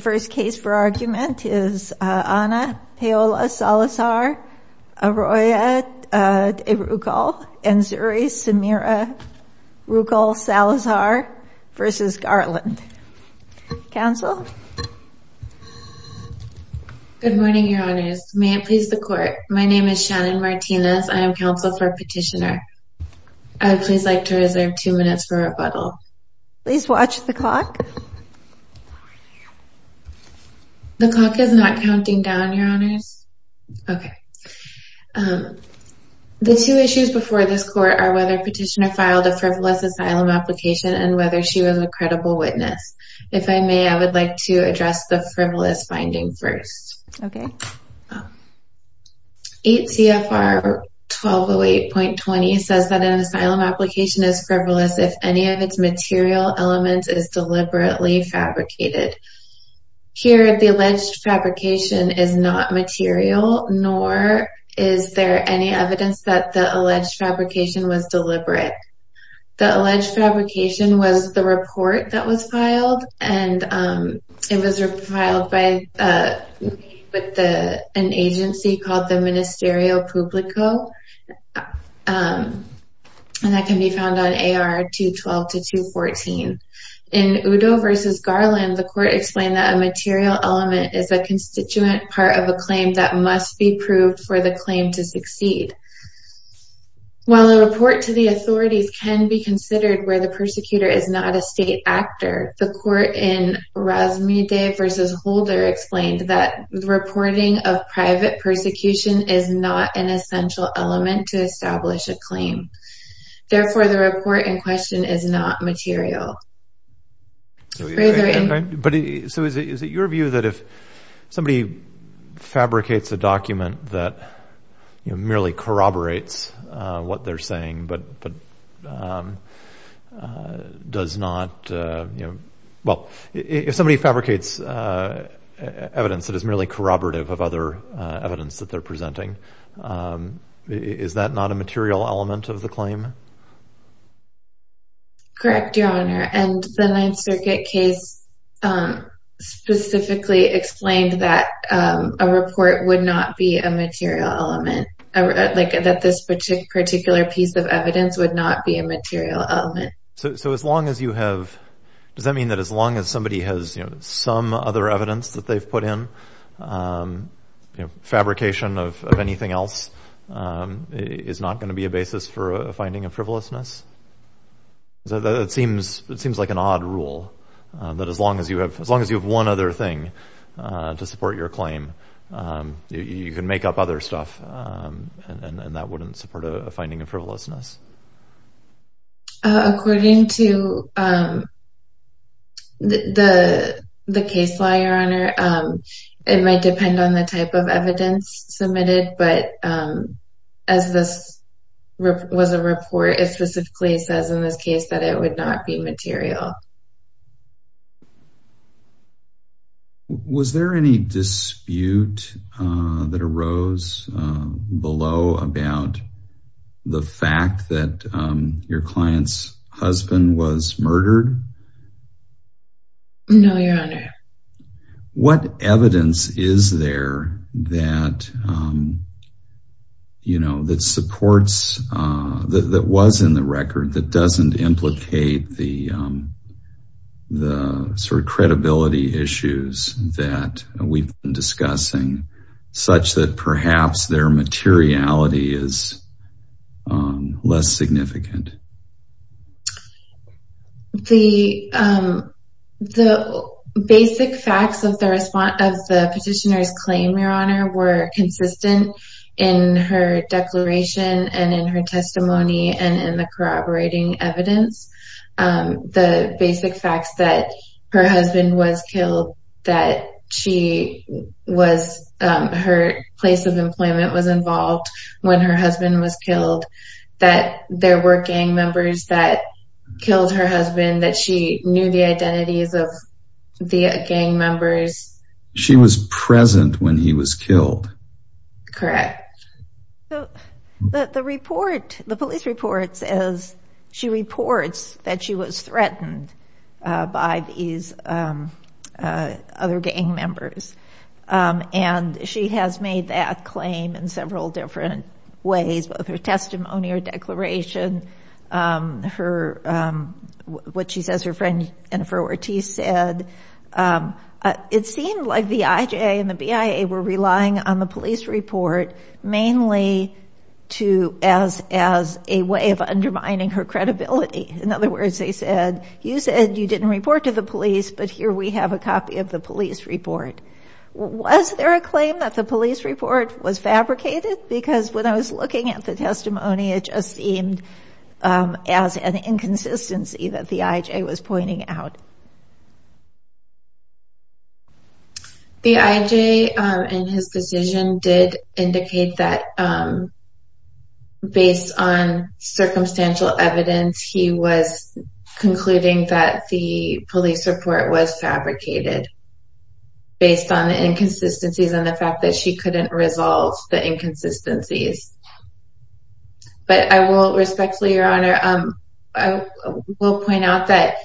First case for argument is Ana Paola Salazar Arroy De Rucal and Zuri Samira Rucal Salazar v. Garland Counsel Good morning your honors may it please the court my name is Shannon Martinez I am counsel for petitioner I would please like to reserve two minutes for rebuttal please watch the clock the clock is not counting down your honors okay um the two issues before this court are whether petitioner filed a frivolous asylum application and whether she was a credible witness if I may I would like to address the frivolous finding first okay 8 CFR 1208.20 says that an asylum application is frivolous if any of its material elements is deliberately fabricated here the alleged fabrication is not material nor is there any evidence that the alleged fabrication was deliberate the alleged fabrication was the report that was filed and um it was filed by uh with the an agency called the ministerio publico um and that can be found on AR 212 to 214. In Udo v. Garland the court explained that a material element is a constituent part of a claim that must be proved for the claim to succeed while a report to the authorities can be considered where the persecutor is not a state actor the court in Razmideh v. Holder explained that the reporting of private persecution is not an essential element to establish a claim therefore the report in question is not material but so is it your view that if somebody fabricates a document that you know merely corroborates what they're saying but but um uh does not uh you know well if somebody fabricates uh evidence that is merely corroborative of other uh evidence that they're presenting is that not a material element of the claim? Correct your honor and the ninth circuit case um specifically explained that um a report would not be a material element like that this particular piece of evidence would not be a material element so so as long as you have does that mean that as long as somebody has you know some other evidence that they've put in um you know fabrication of anything else um is not going to be a basis for a finding of frivolousness so that seems it seems like an odd rule that as long as you have as long as you have one other thing uh to support your claim um you can make up other stuff um and and it might depend on the type of evidence submitted but um as this was a report it specifically says in this case that it would not be material was there any dispute uh that arose below about the fact that um your client's husband was murdered no your honor what evidence is there that um you know that supports uh that was in the record that doesn't implicate the um the sort of credibility issues that we've been discussing such that um the basic facts of the response of the petitioner's claim your honor were consistent in her declaration and in her testimony and in the corroborating evidence um the basic facts that her husband was killed that she was um her place of employment was involved when her husband was knew the identities of the gang members she was present when he was killed correct so the report the police report says she reports that she was threatened uh by these um uh other gang members um and she has made that claim in several different ways both her testimony or and for what he said um it seemed like the ij and the bia were relying on the police report mainly to as as a way of undermining her credibility in other words they said you said you didn't report to the police but here we have a copy of the police report was there a claim that the police report was fabricated because when i was looking at the out the ij and his decision did indicate that um based on circumstantial evidence he was concluding that the police report was fabricated based on the inconsistencies and the fact that she couldn't resolve the inconsistencies but i will respectfully your honor um i will point out that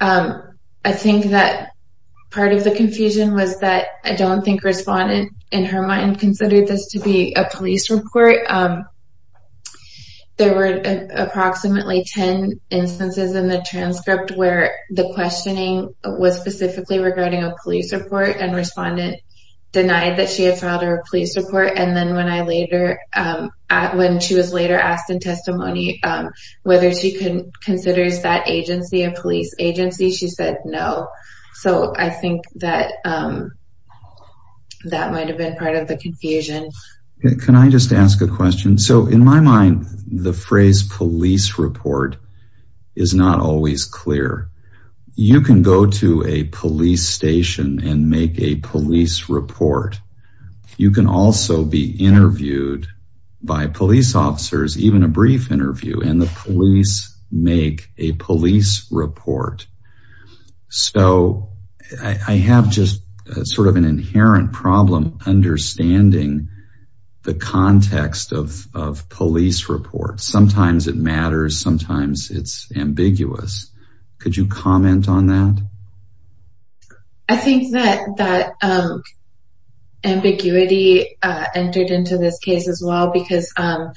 um i think that part of the confusion was that i don't think respondent in her mind considered this to be a police report um there were approximately 10 instances in the transcript where the questioning was specifically regarding a police report and respondent denied that she had filed her police report and then when i later um at when she was later asked in testimony um considers that agency a police agency she said no so i think that um that might have been part of the confusion can i just ask a question so in my mind the phrase police report is not always clear you can go to a police station and make a police report you can also be interviewed by police officers even a brief interview and the police make a police report so i have just sort of an inherent problem understanding the context of of police reports sometimes it matters sometimes it's ambiguous could you comment on that i think that that um ambiguity uh entered into this case as well because um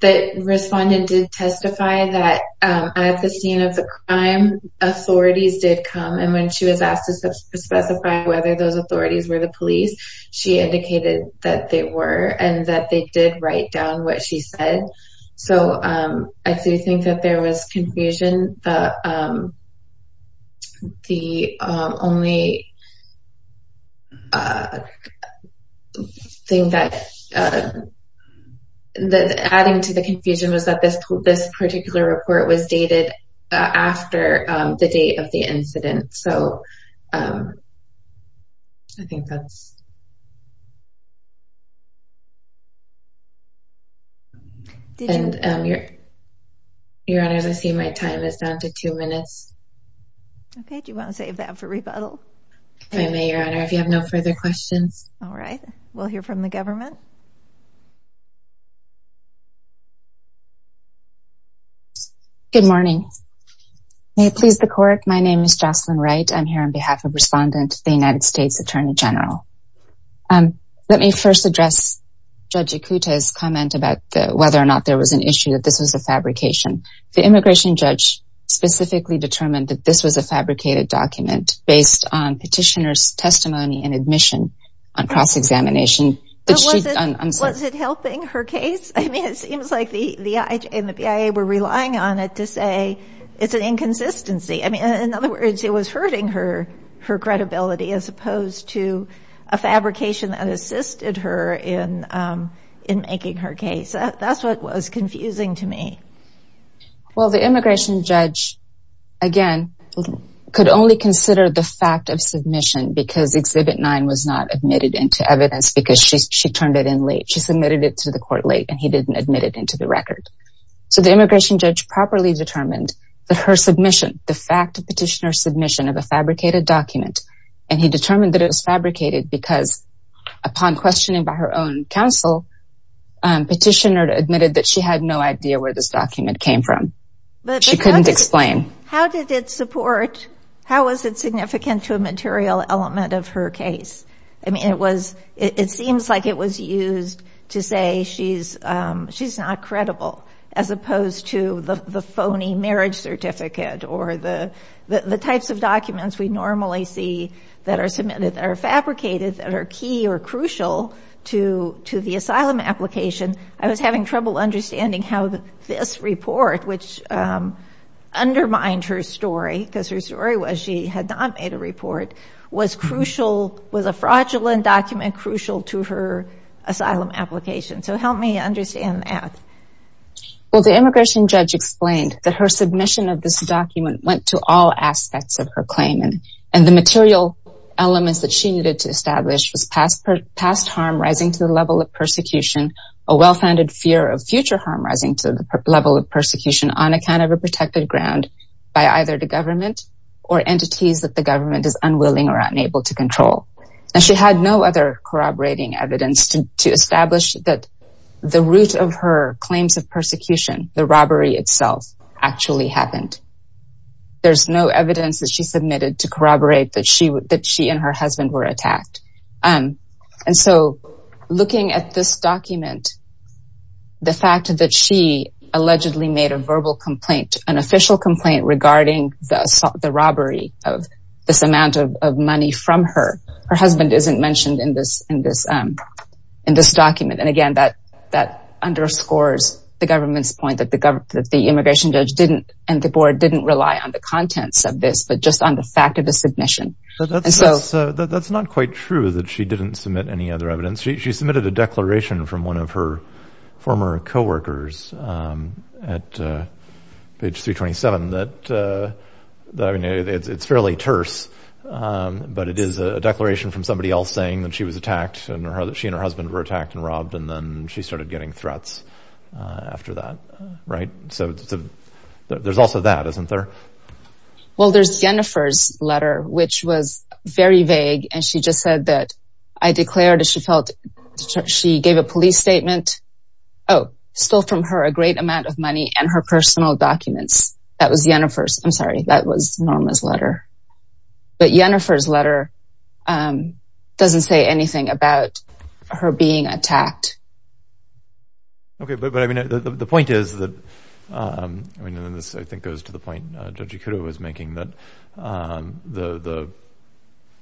the respondent did testify that um at the scene of the crime authorities did come and when she was asked to specify whether those authorities were the police she indicated that they were and that they did write down what she said so um i do think that was confusion um the um only uh thing that uh the adding to the confusion was that this this particular report was dated uh after um the date of the incident so um i think that's um and um your your honor i see my time is down to two minutes okay do you want to save that for rebuttal i may your honor if you have no further questions all right we'll hear from the government good morning may it please the court my name is jocelyn right i'm here on behalf of the united states attorney general um let me first address judge akuta's comment about the whether or not there was an issue that this was a fabrication the immigration judge specifically determined that this was a fabricated document based on petitioner's testimony and admission on cross-examination was it helping her case i mean it seems like the the ij and the bia were credibility as opposed to a fabrication that assisted her in um in making her case that's what was confusing to me well the immigration judge again could only consider the fact of submission because exhibit nine was not admitted into evidence because she she turned it in late she submitted it to the court late and he didn't admit it into the record so the immigration judge properly determined that her submission the fact of petitioner's submission of a fabricated document and he determined that it was fabricated because upon questioning by her own counsel petitioner admitted that she had no idea where this document came from she couldn't explain how did it support how was it significant to a material element of her case i mean it was it the phony marriage certificate or the the types of documents we normally see that are submitted that are fabricated that are key or crucial to to the asylum application i was having trouble understanding how this report which um undermined her story because her story was she had not made a report was crucial was a fraudulent document crucial to her asylum application so help me understand that well the immigration judge explained that her submission of this document went to all aspects of her claim and and the material elements that she needed to establish was past past harm rising to the level of persecution a well-founded fear of future harm rising to the level of persecution on account of a protected ground by either the government or entities that the government is unwilling or unable to control and she had no other corroborating evidence to to establish that the root of her claims of persecution the robbery itself actually happened there's no evidence that she submitted to corroborate that she that she and her husband were attacked um and so looking at this document the fact that she allegedly made a verbal complaint an official complaint regarding the assault the robbery of this amount of money from her her husband isn't mentioned in this in this um in this document and again that that underscores the government's point that the government that the immigration judge didn't and the board didn't rely on the contents of this but just on the fact of the submission and so that's not quite true that she didn't submit any other evidence she submitted a um but it is a declaration from somebody else saying that she was attacked and her she and her husband were attacked and robbed and then she started getting threats uh after that right so there's also that isn't there well there's jennifer's letter which was very vague and she just said that i declared that she felt she gave a police statement oh still from her a great amount of money and her personal documents that was jennifer's i'm sorry that was norma's letter but jennifer's letter um doesn't say anything about her being attacked okay but i mean the point is that um i mean this i think goes to the point uh judge ikura was making that um the the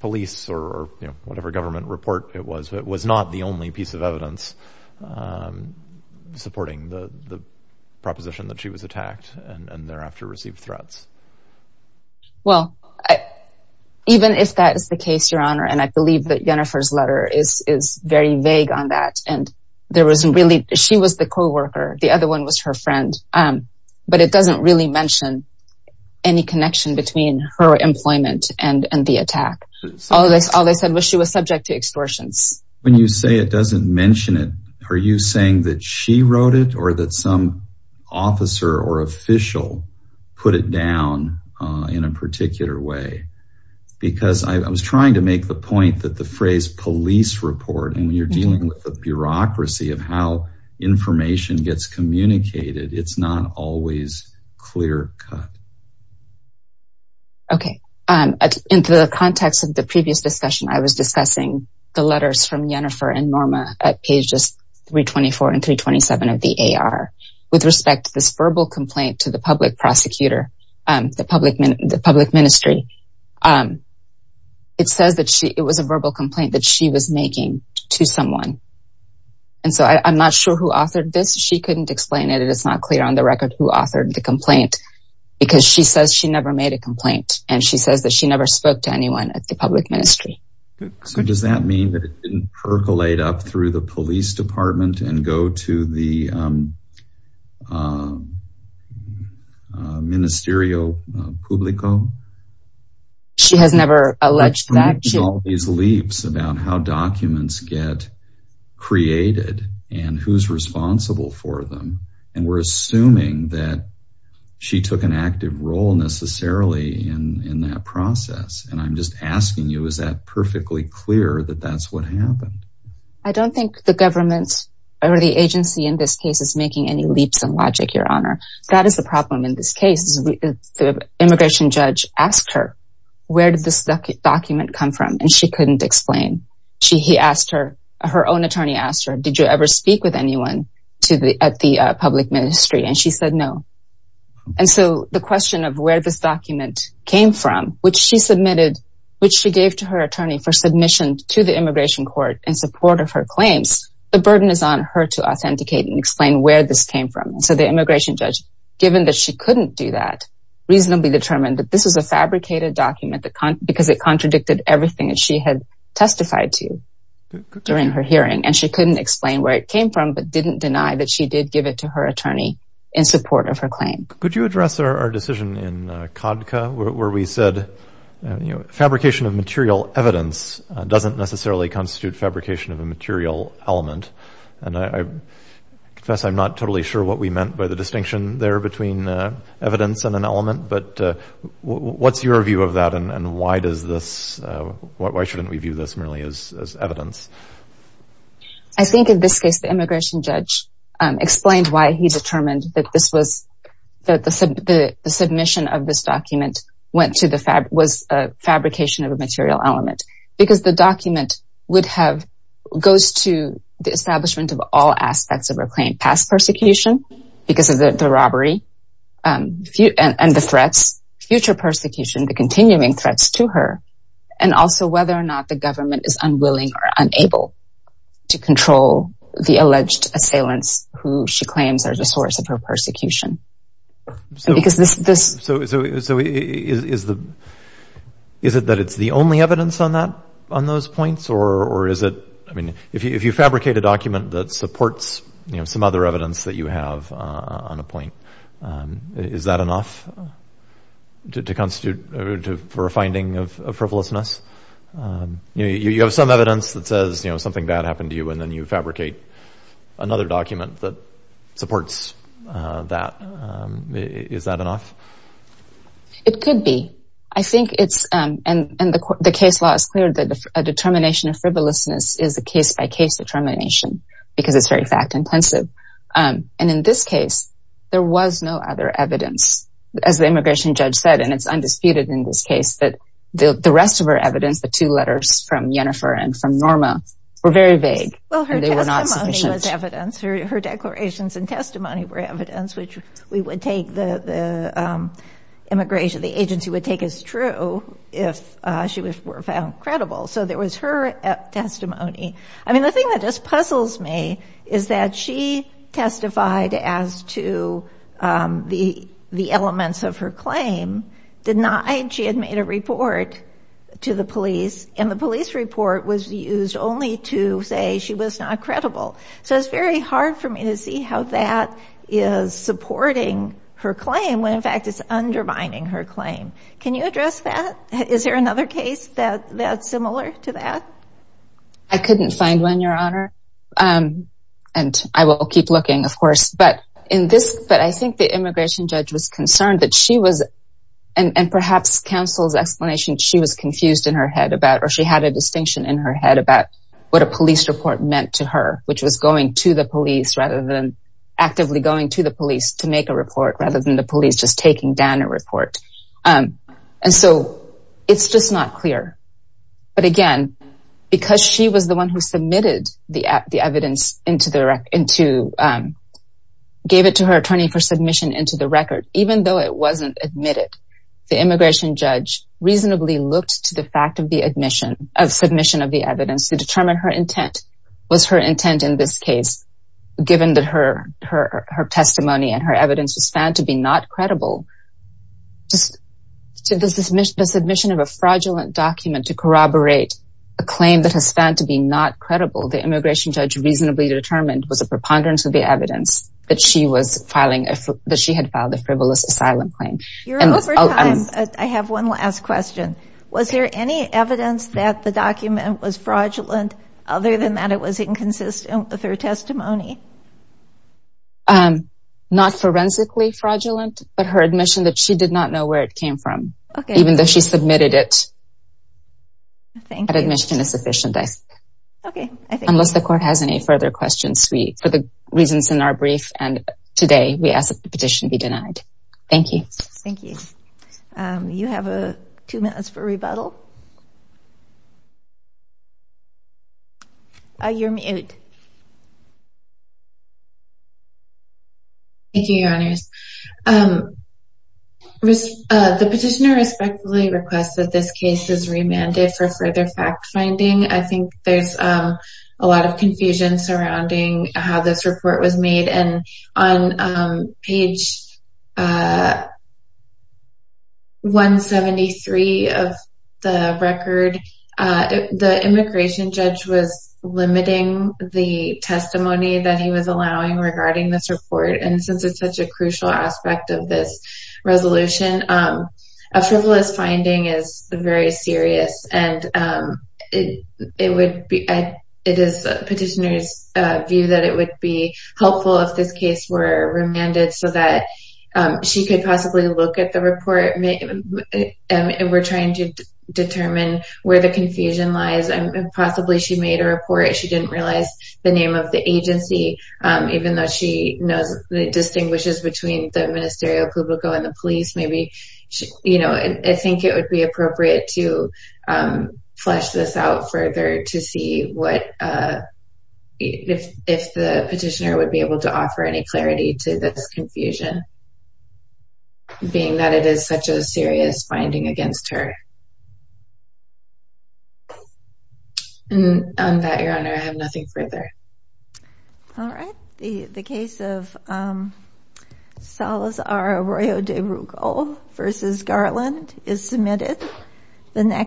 police or you know whatever government report it was it was not the only piece of evidence um supporting the the proposition that she was attacked and and thereafter received threats well i even if that is the case your honor and i believe that jennifer's letter is is very vague on that and there wasn't really she was the co-worker the other one was her friend um but it doesn't really mention any connection between her employment and and the attack all this all they said was she was subject to extortions when you say it doesn't mention it are you saying that she wrote it or that some officer or official put it down uh in a particular way because i was trying to make the point that the phrase police report and you're dealing with the bureaucracy of how information gets communicated it's not always clear cut okay um in the context of the previous discussion i was discussing the letters from jennifer and of the ar with respect to this verbal complaint to the public prosecutor um the public the public ministry um it says that she it was a verbal complaint that she was making to someone and so i i'm not sure who authored this she couldn't explain it it's not clear on the record who authored the complaint because she says she never made a complaint and she says that she never spoke to anyone at the public ministry so does that mean that it didn't percolate up through the police department and go to the um uh ministerio publico she has never alleged that all these leaps about how documents get created and who's responsible for them and we're assuming that she took an active role necessarily in in that process and i'm just asking you is that perfectly clear that that's what happened i don't think the government or the agency in this case is making any leaps in logic your honor that is the problem in this case the immigration judge asked her where did this document come from and she couldn't explain she he asked her her own attorney asked her did you ever speak with anyone to the at the public ministry and she said no and so the question of where this document came from which she submitted which she gave to her attorney for the immigration court in support of her claims the burden is on her to authenticate and explain where this came from and so the immigration judge given that she couldn't do that reasonably determined that this is a fabricated document that because it contradicted everything that she had testified to during her hearing and she couldn't explain where it came from but didn't deny that she did give it to her attorney in support of her claim could you address our decision in constitute fabrication of a material element and i confess i'm not totally sure what we meant by the distinction there between uh evidence and an element but uh what's your view of that and why does this uh why shouldn't we view this merely as as evidence i think in this case the immigration judge um explained why he determined that this was that the the submission of this document went to the fact was a fabrication of a material element because the document would have goes to the establishment of all aspects of her claim past persecution because of the robbery um and the threats future persecution the continuing threats to her and also whether or not the government is unwilling or unable to control the alleged assailants who she claims are the source of her is is the is it that it's the only evidence on that on those points or or is it i mean if you fabricate a document that supports you know some other evidence that you have uh on a point um is that enough to constitute for a finding of frivolousness um you you have some evidence that says you know something bad happened to you and then you fabricate another document that could be i think it's um and and the case law is clear that a determination of frivolousness is a case-by-case determination because it's very fact intensive um and in this case there was no other evidence as the immigration judge said and it's undisputed in this case that the the rest of her evidence the two letters from jennifer and from norma were very vague well they were not sufficient evidence her declarations and testimony were evidence which we would take the the um immigration the agency would take as true if uh she was found credible so there was her testimony i mean the thing that just puzzles me is that she testified as to um the the elements of her claim denied she had made a report to the police and the police report was used only to say she was not credible so it's very hard for me to see how that is supporting her claim when in undermining her claim can you address that is there another case that that's similar to that i couldn't find one your honor um and i will keep looking of course but in this but i think the immigration judge was concerned that she was and and perhaps counsel's explanation she was confused in her head about or she had a distinction in her head about what a police report meant to her which was going to the police rather than actively going to the police to make a report rather than the police just taking down a report um and so it's just not clear but again because she was the one who submitted the the evidence into the record into um gave it to her attorney for submission into the record even though it wasn't admitted the immigration judge reasonably looked to the fact of the admission of submission of the evidence to determine her intent was her testimony and her evidence was found to be not credible just to the submission of a fraudulent document to corroborate a claim that has found to be not credible the immigration judge reasonably determined was a preponderance of the evidence that she was filing that she had filed a frivolous asylum claim i have one last question was there any evidence that the document was fraudulent other than that it was inconsistent with her testimony um not forensically fraudulent but her admission that she did not know where it came from even though she submitted it thank you that admission is sufficient i think okay unless the court has any further questions we for the reasons in our brief and today we ask that the petition be denied thank you thank you um you have a two minutes for rebuttal uh you're mute thank you your honors um the petitioner respectfully requests that this case is remanded for further fact finding i think there's um a lot of confusion surrounding how this report was made and on um page uh 173 of the record uh the immigration judge was limiting the testimony that he was allowing regarding this report and since it's such a crucial aspect of this resolution um a frivolous finding is very serious and um it it would be it is petitioner's uh view that it would be helpful if this case were remanded so that she could possibly look at the report and we're trying to determine where the confusion lies and possibly she made a report she didn't realize the name of the agency um even though she knows distinguishes between the ministerio publico and the police maybe you know i think it would be appropriate to um flesh this out further to see what uh if if the petitioner would be able to offer any clarity to this confusion being that it is such a serious finding against her and on that your honor i have nothing further all right the the case of um salazar arroyo de rugal versus garland is submitted the next